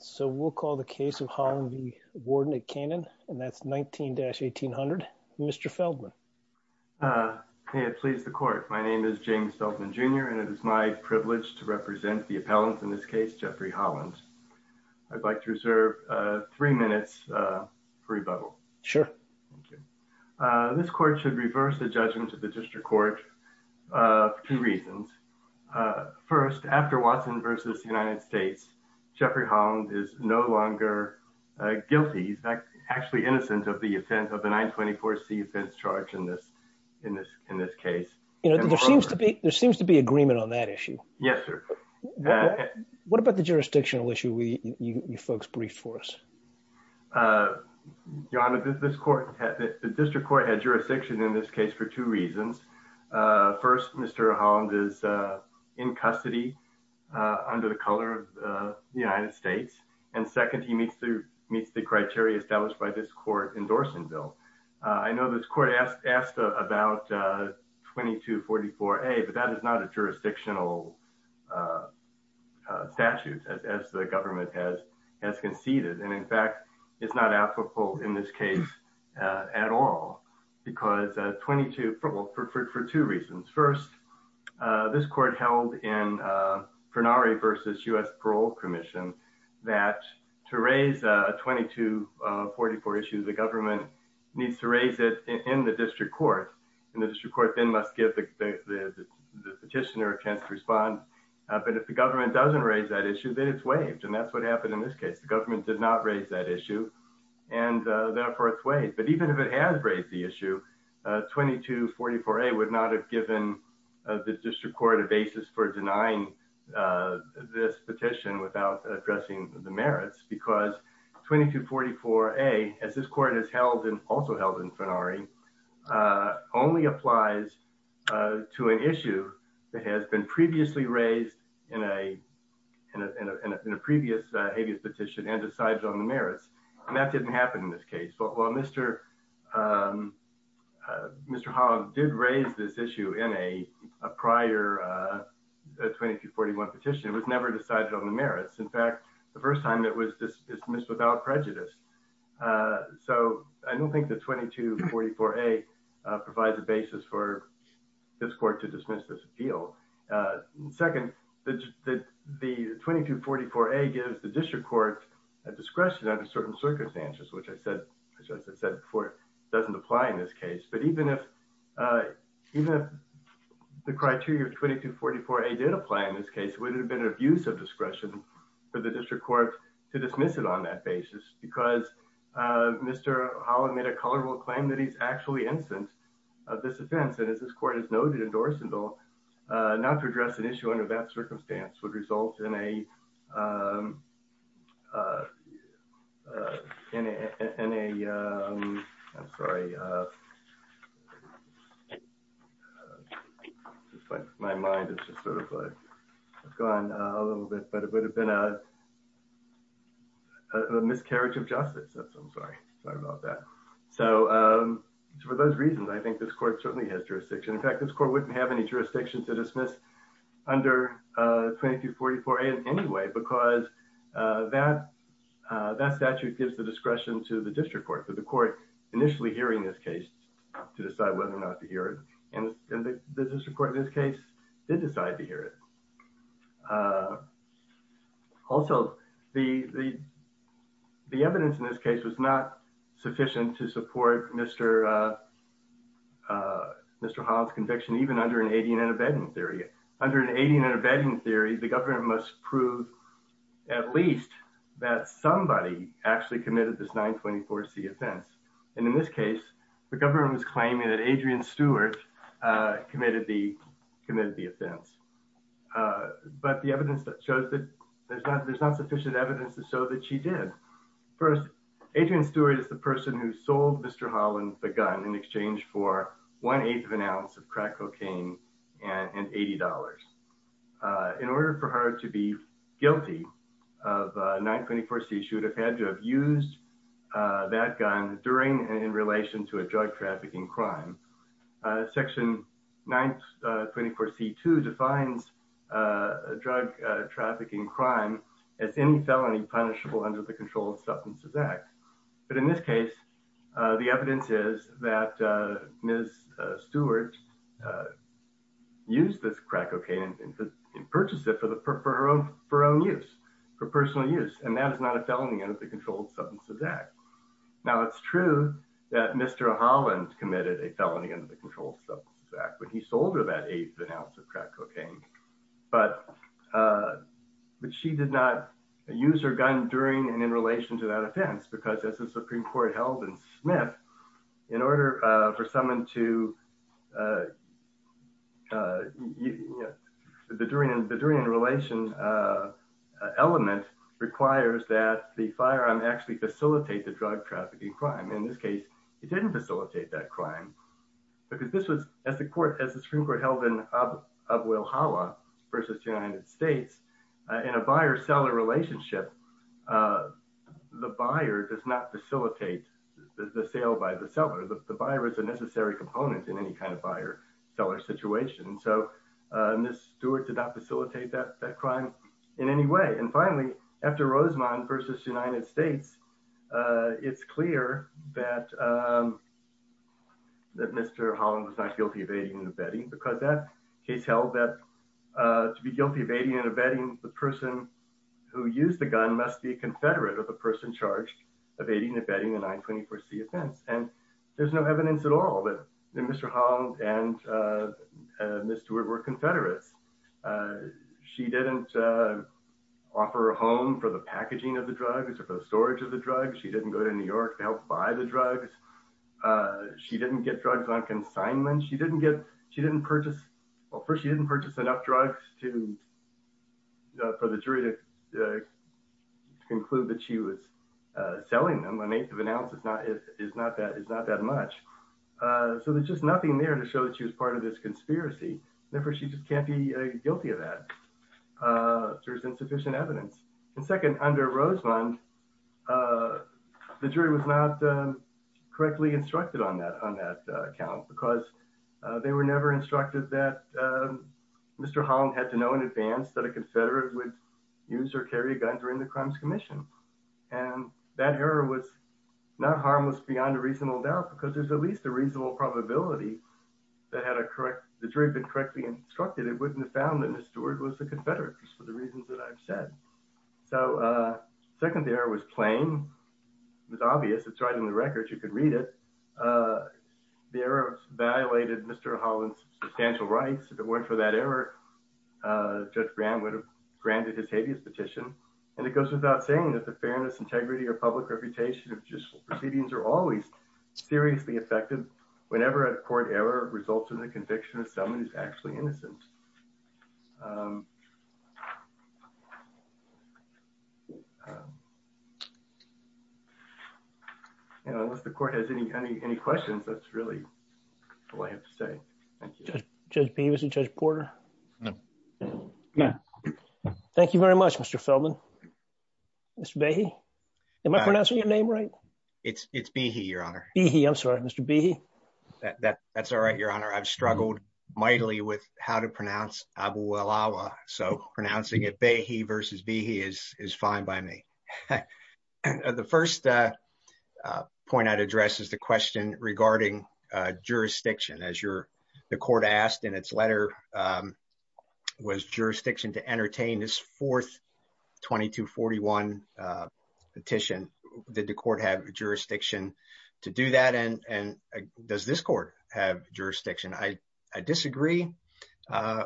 So we'll call the case of Holland v. Warden Canaan, and that's 19-1800. Mr. Feldman. May it please the court. My name is James Feldman Jr. and it is my privilege to represent the appellants in this case, Jeffrey Holland. I'd like to reserve three minutes for rebuttal. Sure. Thank you. This court should reverse the judgment of the district court for two reasons. First, after Watson v. United States, Jeffrey Holland is no longer guilty. He's actually innocent of the 924C offense charge in this case. There seems to be agreement on that issue. Yes, sir. What about the jurisdictional issue you folks briefed for us? Your Honor, the district court had jurisdiction in this case for two reasons. First, Mr. Holland is in custody under the color of the United States. And second, he meets the criteria established by this court endorsement bill. I know this court asked about 2244A, but that is not a applicable in this case at all for two reasons. First, this court held in Parnari v. U.S. Parole Commission that to raise 2244 issues, the government needs to raise it in the district court. And the district court then must give the petitioner a chance to respond. But if the government doesn't raise that issue, then it's waived. And that's what happened in this case. Government did not raise that issue, and therefore it's waived. But even if it has raised the issue, 2244A would not have given the district court a basis for denying this petition without addressing the merits because 2244A, as this court has held and also held in Parnari, only applies to an issue that has been previously raised in a previous habeas petition and decides on the merits. And that didn't happen in this case. Mr. Holland did raise this issue in a prior 2241 petition. It was never decided on the merits. In fact, the first time it was dismissed without prejudice. So I don't think that 2244A provides a basis for this court to dismiss this appeal. Second, the 2244A gives the district court a discretion under certain circumstances, which as I said before, doesn't apply in this case. But even if the criteria of 2244A did apply in this case, it would have been an abuse of discretion for the district court to dismiss it on that basis because Mr. Holland made a factually instance of this offense. And as this court has noted in Dorsendal, not to address an issue under that circumstance would result in a... I'm sorry. My mind is just sort of gone a little bit, but it would have been a for those reasons, I think this court certainly has jurisdiction. In fact, this court wouldn't have any jurisdiction to dismiss under 2244A in any way because that statute gives the discretion to the district court for the court initially hearing this case to decide whether or not to hear it. And the district court in this case did decide to hear it. Also, the evidence in this case was not sufficient to support Mr. Holland's conviction even under an Adian and Abedin theory. Under an Adian and Abedin theory, the government must prove at least that somebody actually committed this 924C offense. And in this case, the government was claiming that Adrian Stewart committed the offense. But the evidence that shows that there's not sufficient evidence to show that she did. First, Adrian Stewart is the person who sold Mr. Holland the gun in exchange for one eighth of an ounce of crack cocaine and $80. In order for her to be guilty of 924C, she would have had to have used that gun during and to a drug trafficking crime. Section 924C2 defines drug trafficking crime as any felony punishable under the Controlled Substances Act. But in this case, the evidence is that Ms. Stewart used this crack cocaine and purchased it for her own use, for personal use. And that is not a Mr. Holland committed a felony under the Controlled Substances Act, but he sold her that eighth ounce of crack cocaine. But she did not use her gun during and in relation to that offense, because as the Supreme Court held in Smith, in order for someone to, the during and relation element requires that the firearm actually facilitate the drug trafficking crime. In this case, it didn't facilitate that crime, because this was, as the Supreme Court held in Abulhala versus United States, in a buyer-seller relationship, the buyer does not facilitate the sale by the seller. The buyer is a necessary component in any kind of buyer-seller situation. So Ms. Stewart did not facilitate that crime in any way. And finally, after Rosamond versus United States, it's clear that Mr. Holland was not guilty of aiding and abetting, because that case held that to be guilty of aiding and abetting, the person who used the gun must be a confederate of the person charged of aiding and abetting the 924c offense. And there's no evidence at all that Mr. Holland and Ms. Stewart were confederates. She didn't offer a home for the storage of the drugs. She didn't go to New York to help buy the drugs. She didn't get drugs on consignment. She didn't purchase, well, first, she didn't purchase enough drugs for the jury to conclude that she was selling them. An eighth of an ounce is not that much. So there's just nothing there to show that she was part of this conspiracy. Therefore, she just can't be guilty of that. There's insufficient evidence. And second, under Rosamond, the jury was not correctly instructed on that count, because they were never instructed that Mr. Holland had to know in advance that a confederate would use or carry a gun during the Crimes Commission. And that error was not harmless beyond a reasonable doubt, because there's at least a reasonable probability that had the jury been correctly instructed, it wouldn't have found that Ms. Stewart was a confederate, for the reasons that I've said. So second, the error was plain. It was obvious. It's right in the records. You can read it. The error violated Mr. Holland's substantial rights. If it weren't for that error, Judge Graham would have granted his habeas petition. And it goes without saying that the fairness, integrity, or public reputation of judicial proceedings are always seriously affected whenever a court error results in the conviction of someone who's actually innocent. You know, unless the court has any questions, that's really all I have to say. Thank you. Judge Beavis and Judge Porter. Thank you very much, Mr. Feldman. Mr. Behe? Am I pronouncing your name right? It's Behe, Your Honor. Behe, I'm sorry. Mr. Behe? That's all right, Your Honor. I've struggled mightily with how to pronounce Abu Ulawa, so pronouncing it Behe versus Behe is fine by me. The first point I'd address is the question regarding jurisdiction. As the court asked in its letter, was jurisdiction to entertain this fourth 2241 petition, did the court have jurisdiction to do that? And does this court have jurisdiction? I disagree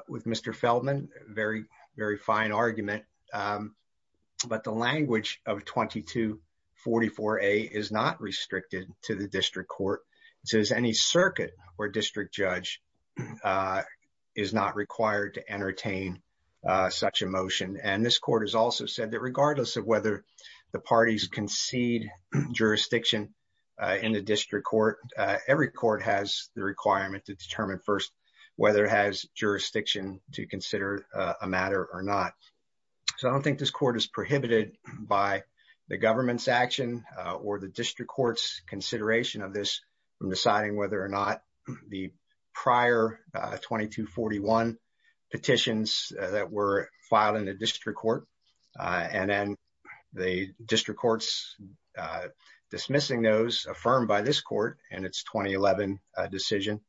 with Mr. Feldman. Very, very fine argument. But the language of 2244A is not restricted to the district court. It says any circuit or district judge is not required to regardless of whether the parties concede jurisdiction in the district court, every court has the requirement to determine first whether it has jurisdiction to consider a matter or not. So I don't think this court is prohibited by the government's action or the district court's consideration of this from deciding whether or not the prior 2241 petitions that were and then the district court's dismissing those affirmed by this court and its 2011 decision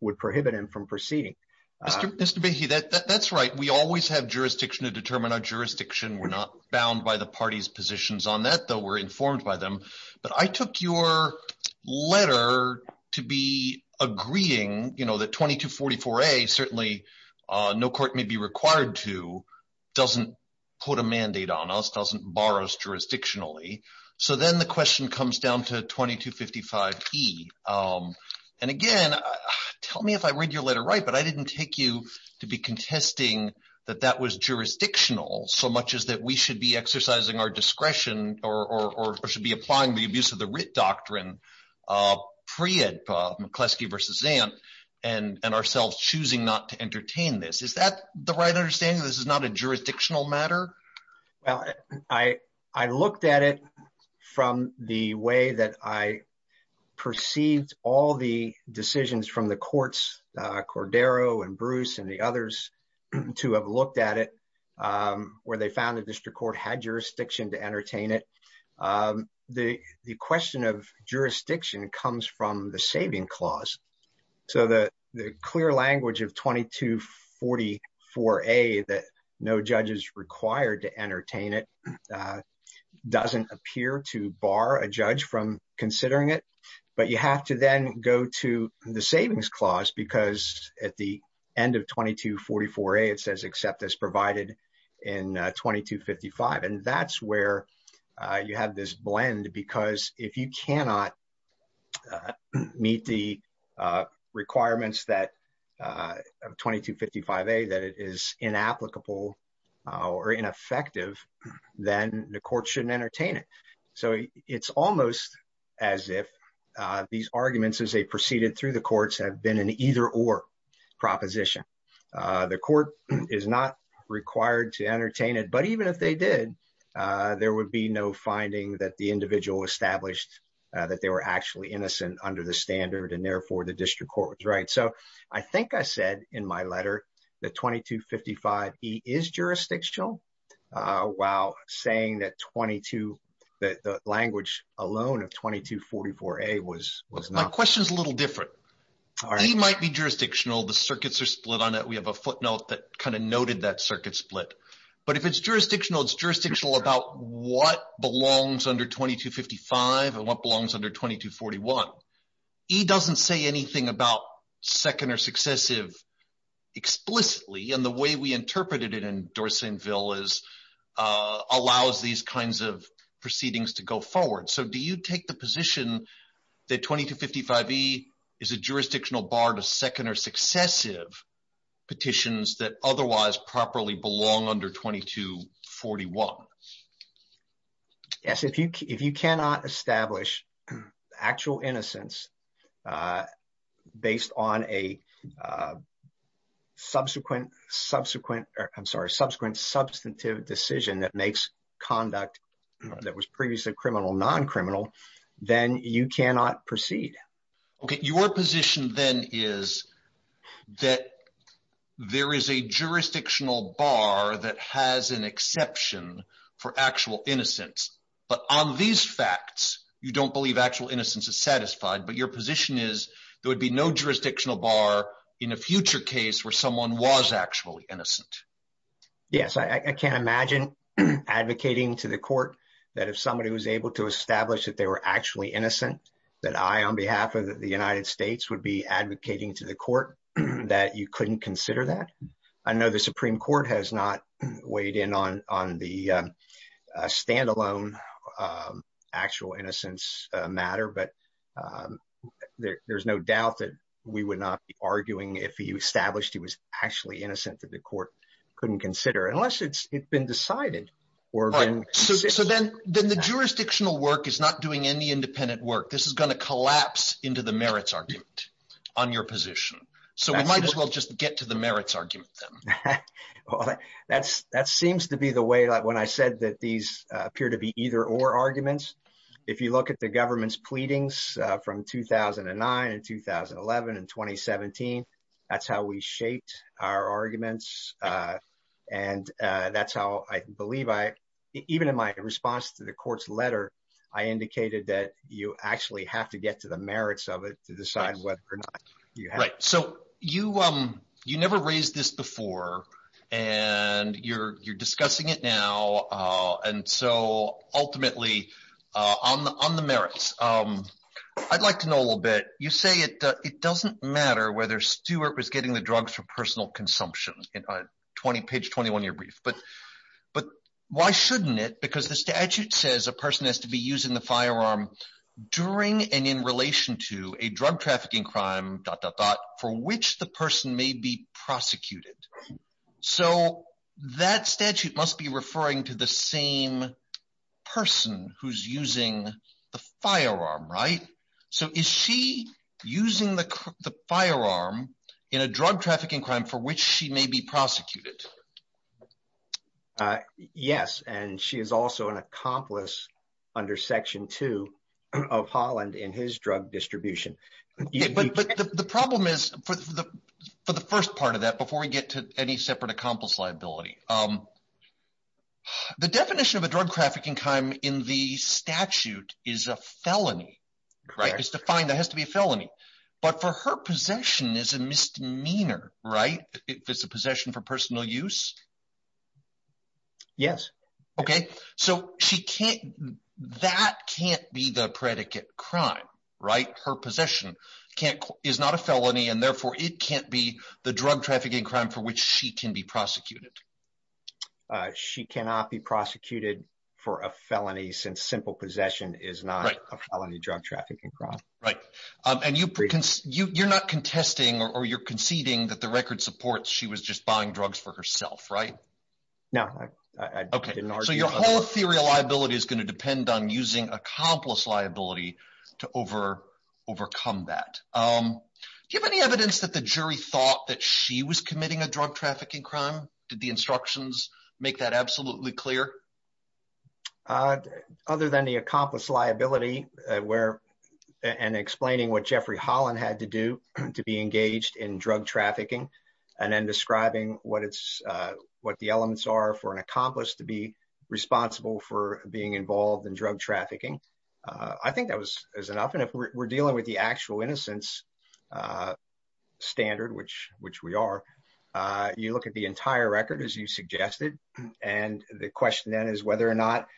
would prohibit him from proceeding. Mr. Behe, that's right. We always have jurisdiction to determine our jurisdiction. We're not bound by the party's positions on that, though we're informed by them. But I took your letter to be agreeing that 2244A, certainly no court may be required to, doesn't put a mandate on us, doesn't borrow us jurisdictionally. So then the question comes down to 2255E. And again, tell me if I read your letter right, but I didn't take you to be contesting that that was jurisdictional so much as that we should be exercising our discretion or should be applying the abuse of the writ doctrine pre-McCleskey v. Zant and ourselves choosing not to entertain this. Is that the right understanding? This is not a jurisdictional matter? Well, I looked at it from the way that I perceived all the decisions from the courts, Cordero and Bruce and the others to have looked at it, where they found the district court had jurisdiction to entertain it. The question of jurisdiction comes from the saving clause. So the clear language of 2244A that no judge is required to entertain it doesn't appear to bar a judge from considering it. But you have to then go to the savings clause because at the end of 2244A it says accept as provided in 2255. And that's where you have this requirements that 2255A that it is inapplicable or ineffective, then the court shouldn't entertain it. So it's almost as if these arguments as they proceeded through the courts have been an either or proposition. The court is not required to entertain it, but even if they did, there would be no finding that the individual established that they were actually innocent under the standard and therefore the district court was right. So I think I said in my letter that 2255E is jurisdictional while saying that the language alone of 2244A was not. My question is a little different. E might be jurisdictional. The circuits are split on it. We have a footnote that kind of noted that circuit split. But if it's jurisdictional, it's jurisdictional about what belongs under 2255 and what belongs under 2241. E doesn't say anything about second or successive explicitly. And the way we interpreted it in Dorset and Ville is allows these kinds of proceedings to go forward. So do you take the position that 2255E is a jurisdictional bar to second or successive petitions that otherwise properly belong under 2241? Yes, if you cannot establish actual innocence based on a subsequent, I'm sorry, subsequent substantive decision that makes conduct that was previously criminal, non-criminal, then you cannot proceed. Okay, your position then is that there is a jurisdictional bar that has an exception for actual innocence. But on these facts, you don't believe actual innocence is satisfied, but your position is there would be no jurisdictional bar in a future case where someone was actually innocent. Yes, I can't imagine advocating to the court that if somebody was able to establish that they were actually innocent, that I on behalf of the United States would be advocating to the court that you couldn't consider that. I know the Supreme Court has not weighed in on the standalone actual innocence matter, but there's no doubt that we would not be arguing if he established he was actually innocent that the court couldn't consider unless it's been decided. So then the jurisdictional work is not doing any merits argument on your position. So we might as well just get to the merits argument then. Well, that seems to be the way like when I said that these appear to be either or arguments. If you look at the government's pleadings from 2009 and 2011 and 2017, that's how we shaped our arguments. And that's how I believe I, even in my response to the court's letter, I indicated that you actually have to get to the merits of it to decide whether or not you're right. So you never raised this before and you're discussing it now. And so ultimately on the merits, I'd like to know a little bit. You say it doesn't matter whether Stuart was getting the drugs for personal consumption on page 21 of your brief. But why shouldn't it? Because the statute says a person has to be using the firearm during and in relation to a drug trafficking crime, dot, dot, dot, for which the person may be prosecuted. So that statute must be referring to the same person who's using the firearm, right? So is she using the firearm in a drug under Section 2 of Holland in his drug distribution? But the problem is for the first part of that, before we get to any separate accomplice liability, the definition of a drug trafficking crime in the statute is a felony, right? It's defined, that has to be a felony. But for her possession is a misdemeanor, right? If it's a possession for personal use? Yes. Okay. So that can't be the predicate crime, right? Her possession is not a felony and therefore it can't be the drug trafficking crime for which she can be prosecuted. She cannot be prosecuted for a felony since simple possession is not a felony drug trafficking crime. Right. And you're not contesting or you're conceding that the record supports she was just buying drugs for herself, right? No. Okay. So your whole theory of liability is going to depend on using accomplice liability to overcome that. Do you have any evidence that the jury thought that she was committing a drug trafficking crime? Did the instructions make that absolutely clear? Other than the accomplice liability and explaining what it's, what the elements are for an accomplice to be responsible for being involved in drug trafficking, I think that was enough. And if we're dealing with the actual innocence standard, which we are, you look at the entire record, as you suggested, and the question then is whether or not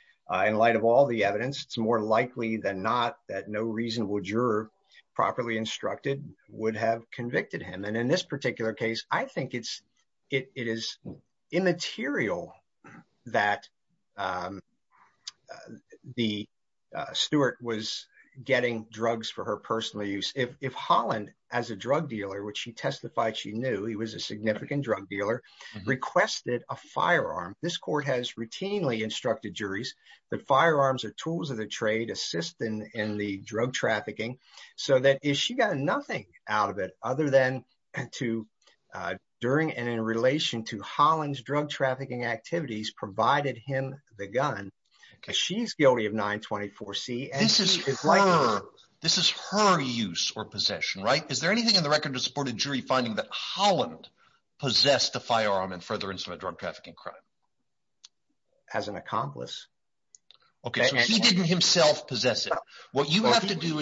in light of all the evidence, it's more likely than not that no reasonable juror properly instructed would have convicted him. And in this particular case, I think it's, it is immaterial that the steward was getting drugs for her personal use. If Holland, as a drug dealer, which she testified she knew he was a significant drug dealer, requested a firearm, this court has routinely instructed juries that firearms are tools of the during and in relation to Holland's drug trafficking activities provided him the gun. She's guilty of 924 C. This is her use or possession, right? Is there anything in the record to support a jury finding that Holland possessed a firearm in furtherance of a drug trafficking crime? As an accomplice. Okay, so he didn't himself possess it. What you have to do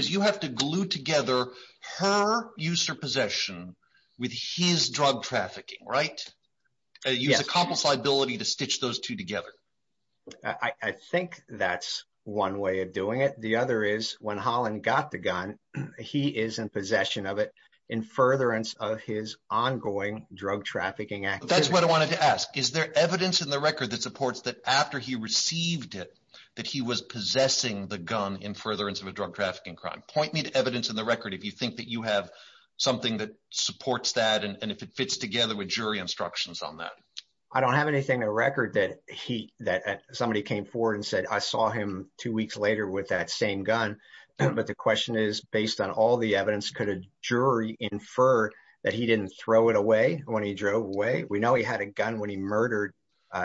her use her possession with his drug trafficking, right? Use a complicity ability to stitch those two together. I think that's one way of doing it. The other is when Holland got the gun, he is in possession of it in furtherance of his ongoing drug trafficking act. That's what I wanted to ask. Is there evidence in the record that supports that after he received it, that he was if you think that you have something that supports that and if it fits together with jury instructions on that, I don't have anything a record that he that somebody came forward and said I saw him two weeks later with that same gun. But the question is, based on all the evidence, could a jury infer that he didn't throw it away when he drove away? We know he had a gun when he murdered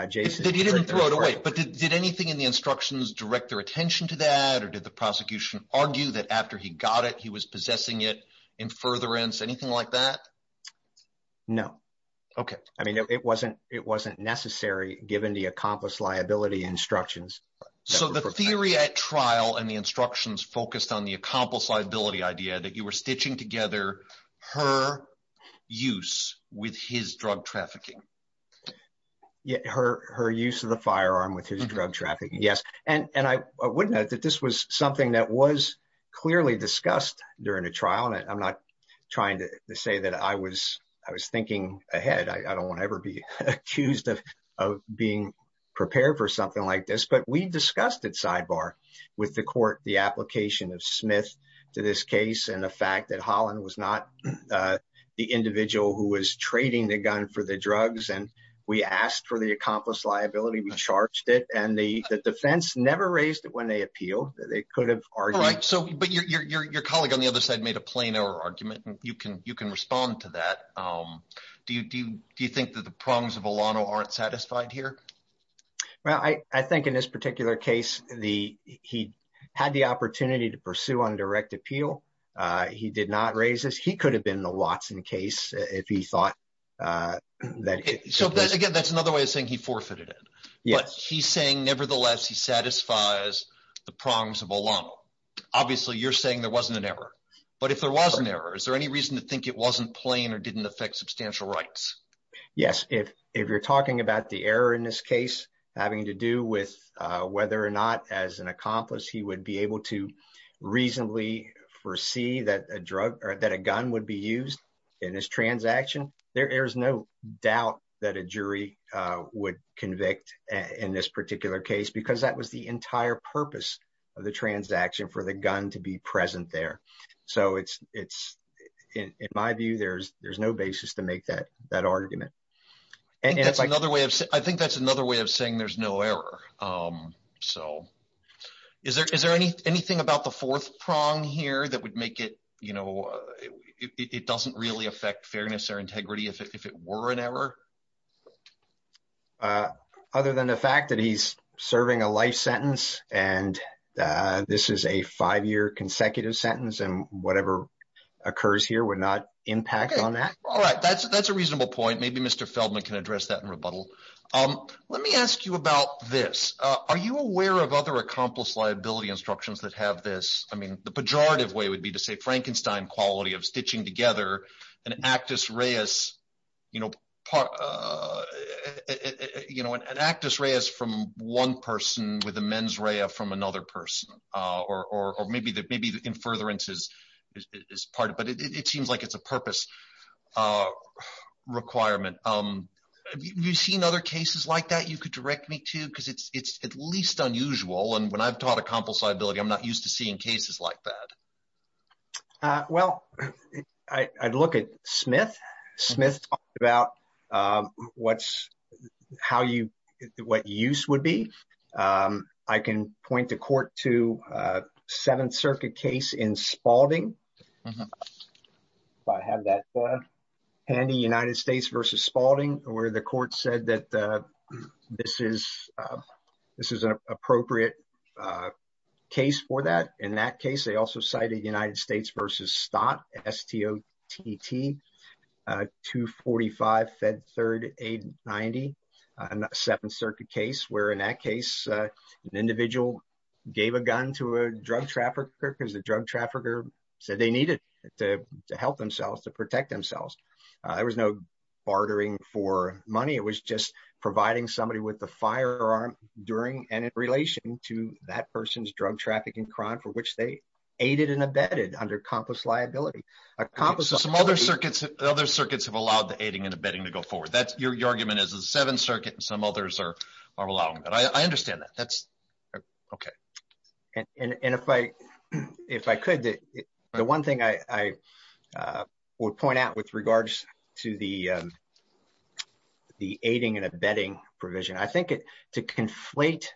Jason. He didn't throw it away. But did anything in the instructions direct their attention to that? Or did the prosecution argue that after he got it, he was possessing it in furtherance? Anything like that? No. Okay. I mean, it wasn't it wasn't necessary given the accomplice liability instructions. So the theory at trial and the instructions focused on the accomplice liability idea that you were stitching together her use with his drug trafficking. Yeah, her her use of the firearm with his drug trafficking. Yes. And and I would note that this was something that was clearly discussed during a trial. And I'm not trying to say that I was I was thinking ahead. I don't want to ever be accused of of being prepared for something like this. But we discussed it sidebar with the court, the application of Smith to this case and the was not the individual who was trading the gun for the drugs. And we asked for the accomplice liability. We charged it. And the defense never raised it when they appeal. They could have argued. So but your colleague on the other side made a plain error argument. And you can you can respond to that. Do you do you think that the prongs of Alano aren't satisfied here? Well, I think in this particular case, the he had the opportunity to pursue on direct appeal. He did not raise this. He could have been the Watson case if he thought that. So, again, that's another way of saying he forfeited it. Yes. He's saying, nevertheless, he satisfies the prongs of Alano. Obviously, you're saying there wasn't an error. But if there was an error, is there any reason to think it wasn't plain or didn't affect substantial rights? Yes. If if you're talking about the error in this case having to do with whether or not as accomplice, he would be able to reasonably foresee that a drug or that a gun would be used in this transaction. There is no doubt that a jury would convict in this particular case because that was the entire purpose of the transaction for the gun to be present there. So it's it's in my view, there's there's no basis to make that that argument. And that's another way of I think that's another way of saying there's no error. So is there is there any anything about the fourth prong here that would make it, you know, it doesn't really affect fairness or integrity if it were an error? Other than the fact that he's serving a life sentence and this is a five year consecutive sentence and whatever occurs here would not impact on that. All right. That's that's a Feldman can address that in rebuttal. Let me ask you about this. Are you aware of other accomplice liability instructions that have this? I mean, the pejorative way would be to say Frankenstein quality of stitching together an actus reus, you know, part, you know, an actus reus from one person with a mens rea from another person or maybe that maybe the infertility is part, but it seems like it's a purpose requirement. You've seen other cases like that you could direct me to because it's at least unusual. And when I've taught accomplice liability, I'm not used to seeing cases like that. Well, I'd look at Smith Smith about what's how you what use would be. I can point to court to Seventh Circuit case in Spalding. I have that handy United States versus Spalding where the court said that this is this is an appropriate case for that. In that case, they also cited United States versus Stott, S-T-O-T-T, 245 Fed Third 890, a Seventh Circuit case where in that case an individual gave a gun to a drug trafficker because the drug trafficker said they needed to help themselves to protect themselves. There was no bartering for money. It was just providing somebody with the firearm during and in relation to that person's drug trafficking crime for which they aided and abetted under accomplice liability. Accomplice liability. So some other circuits, other circuits have allowed the aiding and abetting to go forward. That's your argument is the Seventh Circuit and some others are OK. And if I if I could, the one thing I would point out with regards to the the aiding and abetting provision, I think it to conflate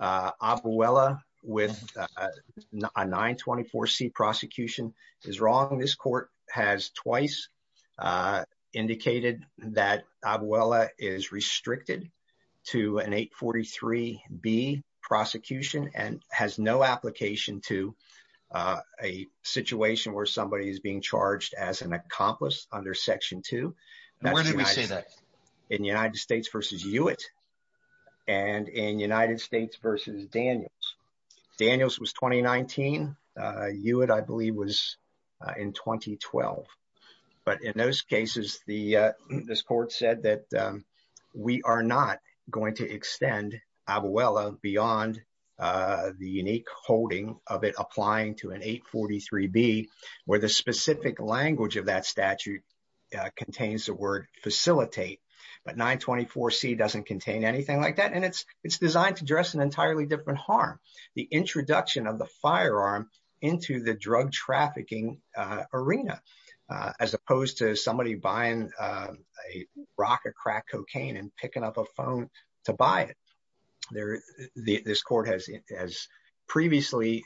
Abuela with a 924 C prosecution is wrong. This court has twice indicated that Abuela is restricted to an 843 B prosecution and has no application to a situation where somebody is being charged as an accomplice under Section 2. Where did we say that? In United States versus Hewitt and in United States versus Daniels. Daniels was 2019. Hewitt, I believe, was in 2012. But in those cases, the this court said that we are not going to extend Abuela beyond the unique holding of it applying to an 843 B where the specific language of that statute contains the word facilitate. But 924 C doesn't contain anything like that. And it's it's designed to dress an entirely different harm. The introduction of the firearm into the drug trafficking arena, as opposed to somebody buying a rock or crack cocaine and picking up a phone to buy it there. This court has as previously,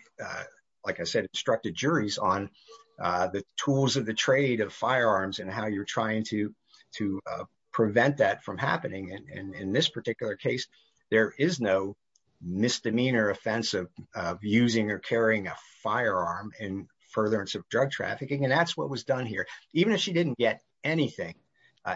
like I said, instructed juries on the tools of the trade of firearms and how you're trying to to prevent that from happening. And in this particular case, there is no misdemeanor offense of using or carrying a firearm in furtherance of drug trafficking. And that's what was done here. Even if she didn't get anything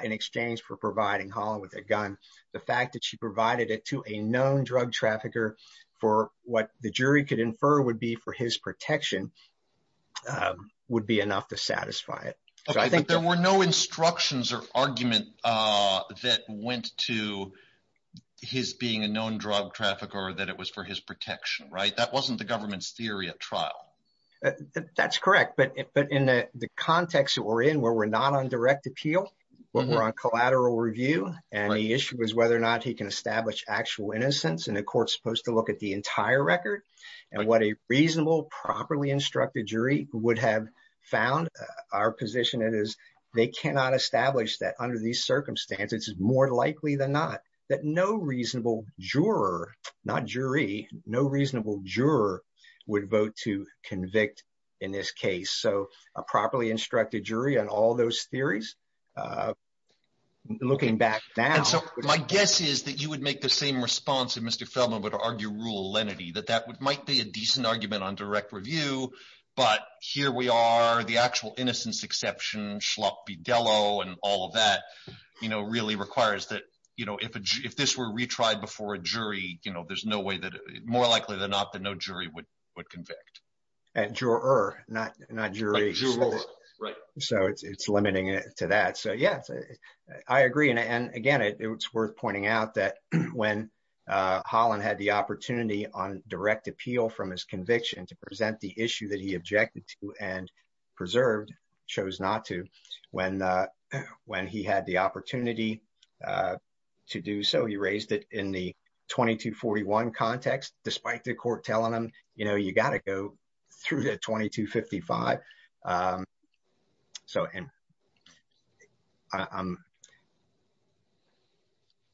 in exchange for providing Holland with a gun, the fact that she provided it to a known drug trafficker for what the jury could infer would be for his protection, would be enough to satisfy it. I think there were no instructions or argument that went to his being a known drug trafficker that it was for his protection, right? That wasn't the government's theory of trial. That's correct. But but in the context that we're in where we're not on direct appeal, we're on collateral review. And the issue is whether or not he can establish actual innocence and the court's supposed to look at the entire record and what a reasonable, properly instructed jury would have found our position. It is they cannot establish that under these circumstances more likely than not that no reasonable juror, not jury, no reasonable juror would vote to convict in this case. So a properly instructed jury on all those theories. Looking back now. And so my guess is that you would make the same response if Mr. Feldman would argue rule lenity, that that would might be a decent argument on direct review. But here we are, the actual innocence exception, schloppy Dello and all of that, you know, really requires that, you know, if if this were retried before a jury, you know, there's no way that more likely than not that no jury would would convict. And juror, not not jury. Right. So it's limiting it to that. So, yes, I agree. And again, it's worth pointing out that when Holland had the opportunity on direct appeal from his conviction to present the issue that he objected to and preserved, chose not to when when he had the opportunity to do so, he raised it in the 2241 context, despite the court telling him, you know, through the 2255. So and. I'm.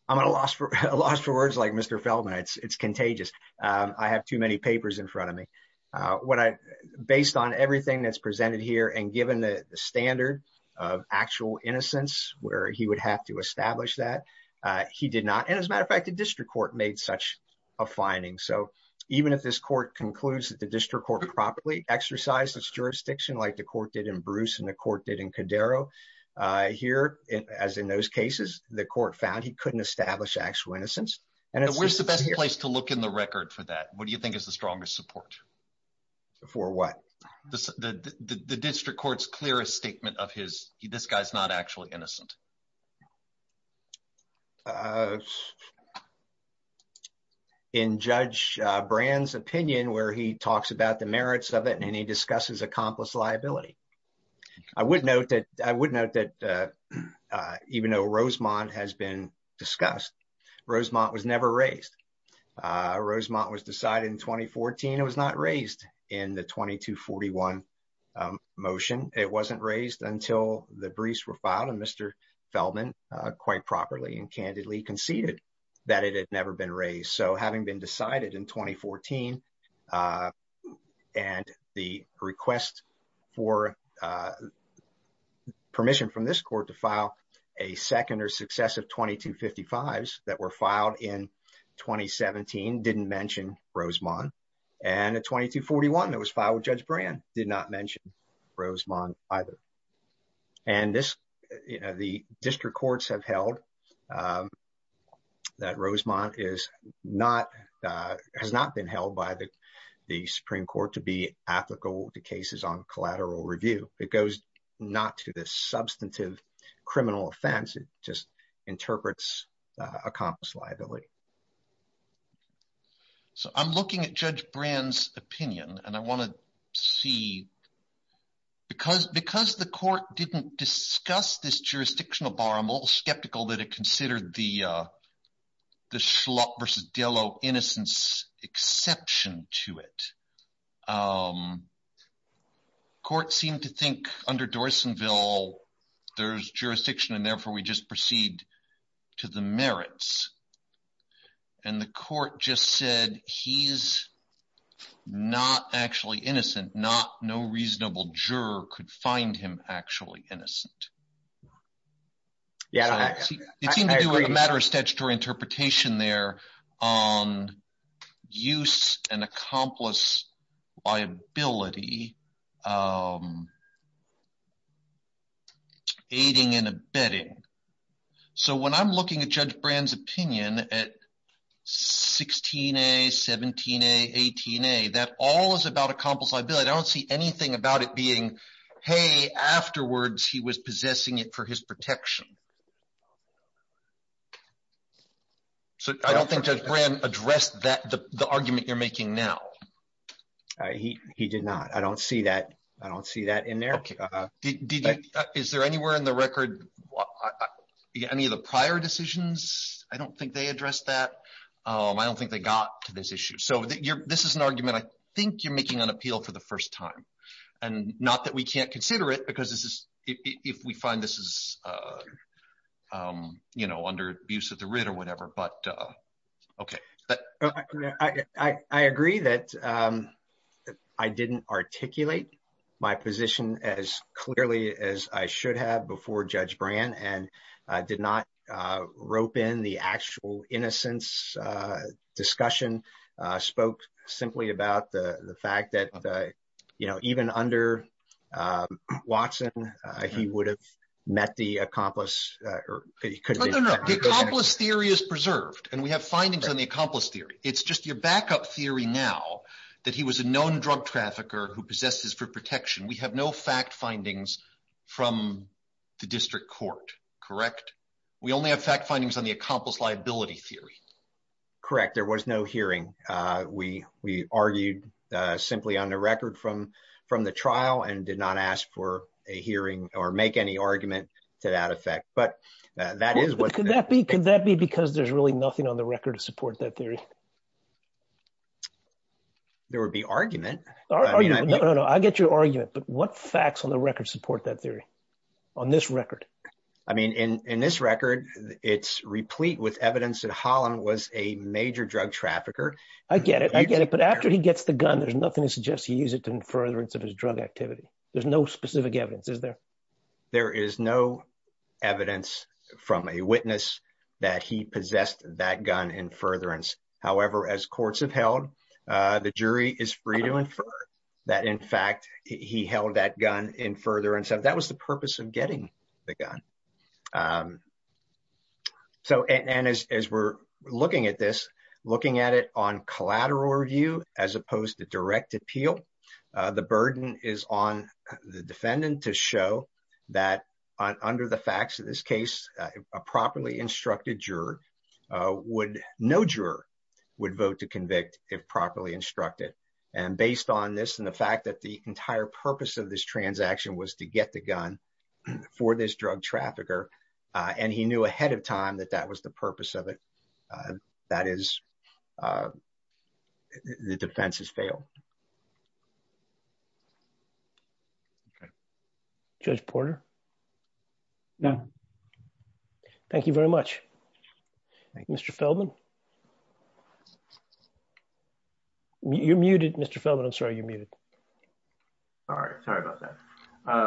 I'm at a loss for a loss for words like Mr. Feldman. It's contagious. I have too many papers in front of me when I based on everything that's presented here and given the standard of actual innocence where he would have to establish that he did not. And as a matter of fact, the district court made such a finding. So even if this court concludes that the district court properly exercised its jurisdiction, like the court did in Bruce and the court did in Cadero here, as in those cases, the court found he couldn't establish actual innocence. And it was the best place to look in the record for that. What do you think is the strongest support for what the district court's clearest statement of his? This guy's not actually innocent. In Judge Brand's opinion, where he talks about the merits of it and he discusses accomplice liability, I would note that I would note that even though Rosemont has been discussed, Rosemont was never raised. Rosemont was decided in 2014. It was not raised in the 2241 motion. It wasn't raised until the briefs were filed and Mr. Feldman quite properly and candidly conceded that it had never been raised. So having been decided in 2014 and the request for permission from this court to file a second or successive 2255s that were filed in 2017 didn't mention Rosemont. And a 2241 that was filed with Judge Brand did not mention Rosemont either. And the district courts have held that Rosemont has not been held by the Supreme Court to be ethical to cases on collateral review. It goes not to the substantive criminal offense. It just So I'm looking at Judge Brand's opinion and I want to see because the court didn't discuss this jurisdictional bar, I'm a little skeptical that it considered the Schlott versus Dello innocence exception to it. Court seemed to think under Dorsonville, there's jurisdiction and we just proceed to the merits. And the court just said he's not actually innocent. No reasonable juror could find him actually innocent. It seemed to do with a matter of statutory interpretation there on use and accomplice liability, aiding and abetting. So when I'm looking at Judge Brand's opinion at 16A, 17A, 18A, that all is about accomplice liability. I don't see anything about it being, hey, afterwards he was possessing it for his protection. So I don't think Judge Brand addressed that, the argument you're making now. He did not. I don't see that. I don't see that in there. Is there anywhere in the record any of the prior decisions? I don't think they addressed that. I don't think they got to this issue. So this is an argument I think you're making on appeal for the first time. And not that we can't consider it because if we find this is under abuse of the writ or whatever, but okay. I agree that I didn't articulate my position as clearly as I should have before Judge Brand and did not rope in the actual innocence discussion, spoke simply about the fact that even under Watson, he would have met the accomplice. The accomplice theory is preserved and we have findings on the accomplice theory. It's just your backup theory now that he was a known drug trafficker who possesses for protection. We have no fact findings from the district court, correct? We only have fact findings on the accomplice liability theory. Correct. There was no hearing. We argued simply on the record from the trial and did not ask for a hearing or make any argument to that effect. But that is what- Could that be because there's really nothing on the record to support that theory? There would be argument. I get your argument, but what facts on the record support that theory on this record? I mean, in this record, it's replete with evidence that Holland was a major drug trafficker. I get it. I get it. But after he gets the gun, there's nothing to suggest he used it furtherance of his drug activity. There's no specific evidence, is there? There is no evidence from a witness that he possessed that gun in furtherance. However, as courts have held, the jury is free to infer that, in fact, he held that gun in furtherance. That was the purpose of getting the gun. And as we're looking at this, looking at it on direct appeal, the burden is on the defendant to show that under the facts of this case, a properly instructed juror would- no juror would vote to convict if properly instructed. And based on this and the fact that the entire purpose of this transaction was to get the gun for this drug trafficker, and he knew ahead of time that that was the purpose of it, that is- the defense has failed. Okay. Judge Porter? No. Thank you very much. Mr. Feldman? You're muted, Mr. Feldman. I'm sorry, you're muted. All right. Sorry about that.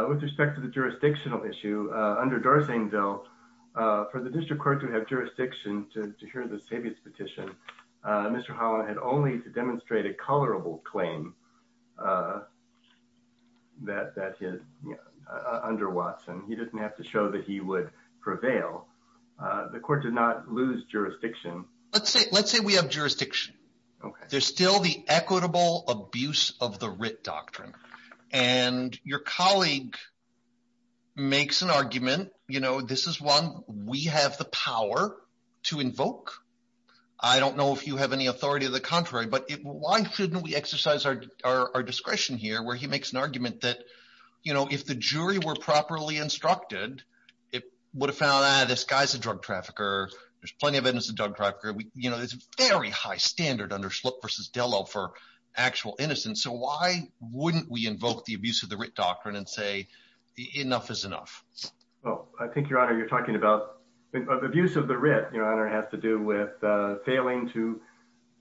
With respect to the jurisdictional issue, under D'Arseneville, for the district court to have jurisdiction to hear the savious petition, Mr. Holland had only to demonstrate a colorable claim that- under Watson. He didn't have to show that he would prevail. The court did not lose jurisdiction. Let's say we have jurisdiction. There's still the equitable abuse of the writ doctrine. And your colleague makes an argument, you know, this is one we have the power to invoke. I don't know if you have any authority of the contrary, but why shouldn't we exercise our discretion here, where he makes an argument that, you know, if the jury were properly instructed, it would have found, ah, this guy's a drug trafficker. There's plenty of innocent drug traffickers. You know, there's a very high standard under Schlup versus Dello for actual innocence. So why wouldn't we invoke the abuse of the writ doctrine and say, enough is enough? Well, I think, Your Honor, you're talking about- the abuse of the writ, Your Honor, has to do with failing to-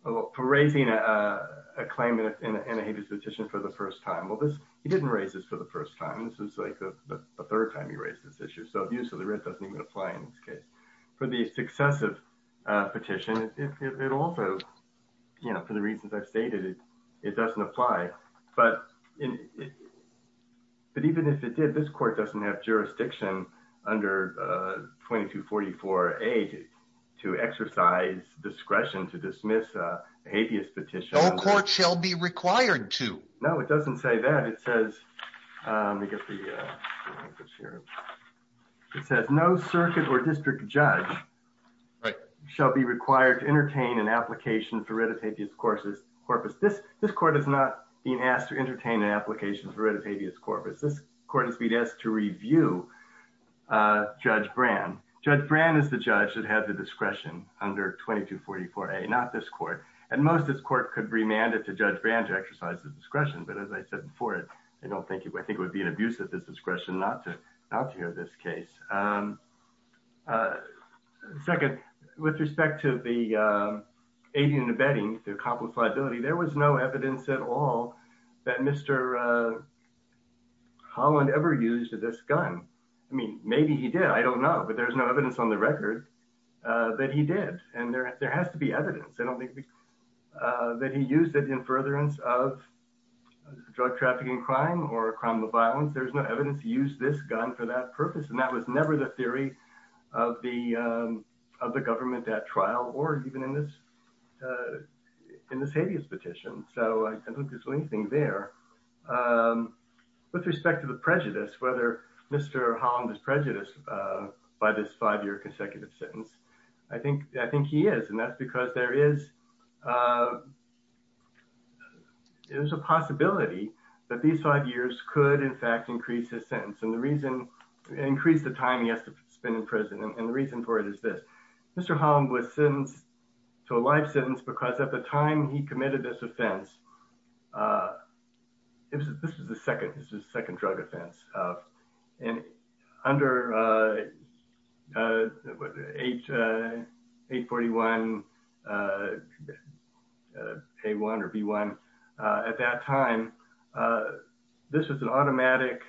for raising a claim in a savious petition for the first time. Well, this- he didn't raise this for the first time. This is like the third time he raised this issue. So abuse of the writ doesn't even apply in this case. For the successive petition, it also, you know, for the reasons I've stated, it doesn't apply. But even if it did, this court doesn't have jurisdiction under 2244A to exercise discretion to dismiss a habeas petition. No court shall be required to. No, it doesn't say that. It says, let me get the- it says no circuit or district judge shall be required to entertain an application for writ of habeas corpus. This court is not being asked to entertain an application for writ of habeas corpus. This court has been asked to review Judge Brand. Judge Brand is the judge that had the discretion under 2244A, not this court. And most of this court could remand it to Judge Brand to exercise the discretion. But as I said before, I don't think- I think it would be an abuse of this discretion not to hear this case. Second, with respect to the aiding and abetting, the accomplice liability, there was no evidence at all that Mr. Holland ever used this gun. I mean, maybe he did. I don't know. But there's no evidence on the record that he did. And there has to be evidence. I crime or a crime of violence, there's no evidence to use this gun for that purpose. And that was never the theory of the government at trial or even in this habeas petition. So I don't think there's anything there. With respect to the prejudice, whether Mr. Holland is prejudiced by this five-year consecutive sentence, I think he is. And that's because there is a possibility that these five years could, in fact, increase his sentence. And the reason- increase the time he has to spend in prison. And the reason for it is this. Mr. Holland was sentenced to a life sentence because at the time he committed this offense, this was the second drug offense. And under 841A1 or B1, at that time, this was an automatic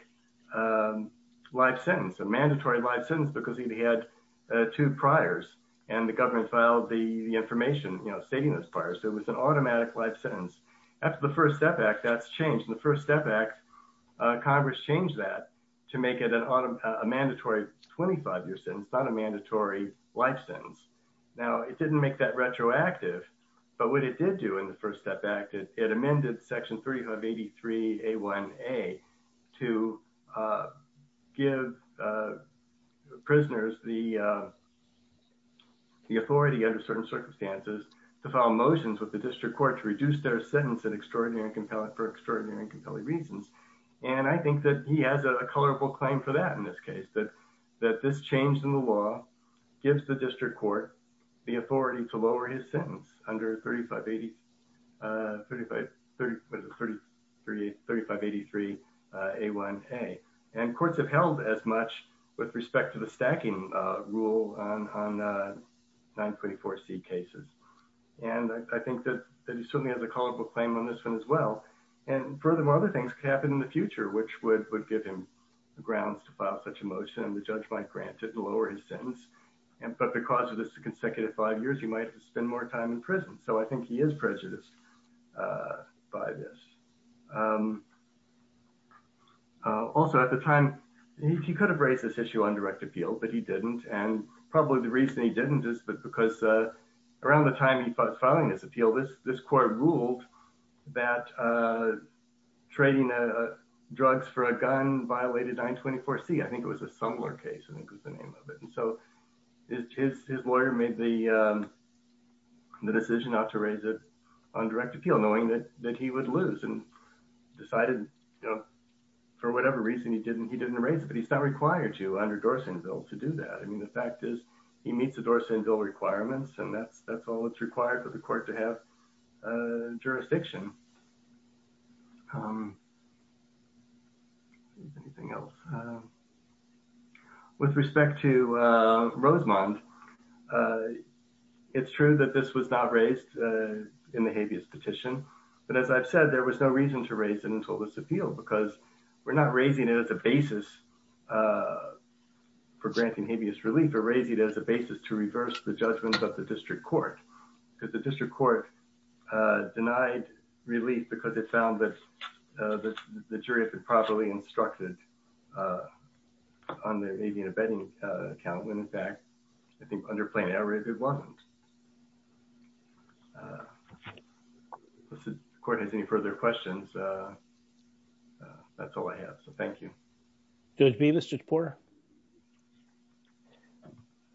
life sentence, a mandatory life sentence, because he had two priors. And the government filed the after the First Step Act, that's changed. In the First Step Act, Congress changed that to make it a mandatory 25-year sentence, not a mandatory life sentence. Now, it didn't make that retroactive. But what it did do in the First Step Act, it amended Section 383A1A to give prisoners the authority under certain circumstances to file motions with the district court to reduce their sentence for extraordinary and compelling reasons. And I think that he has a colorful claim for that in this case, that this change in the law gives the district court the authority to lower his sentence under 3583A1A. And courts have held as much with respect to the stacking rule on 924C cases. And I think that he certainly has a colorful claim on this one as well. And furthermore, other things could happen in the future, which would give him grounds to file such a motion and the judge might grant it and lower his sentence. But because of this consecutive five years, he might have to spend more time in prison. So I think he is prejudiced by this. Also, at the time, he could have raised this issue on direct appeal, but he didn't. And probably the reason he didn't is because around the time he was filing this appeal, this court ruled that trading drugs for a gun violated 924C. I think it was a Sumler case, I think was the name of it. And so his lawyer made the decision not to raise it on direct appeal, knowing that he would lose and decided, for whatever reason, he didn't raise it. But he's not required to under Dorsen Bill to do that. I mean, the fact is, he meets the Dorsen Bill requirements, and that's all that's required for the court to have jurisdiction. With respect to Rosemond, it's true that this was not raised in the habeas petition. But as I've said, there was no reason to raise it until this basis for granting habeas relief or raise it as a basis to reverse the judgments of the district court. Because the district court denied relief because it found that the jury had been properly instructed on the habean abetting account, when in fact, I think under plain error, it wasn't. If the court has any further questions, that's all I have. So thank you. Judge Bevis, Judge Porter.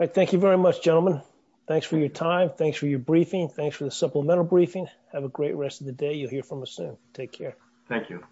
Thank you very much, gentlemen. Thanks for your time. Thanks for your briefing. Thanks for the supplemental briefing. Have a great rest of the day. You'll hear from us soon. Take care. Thank you.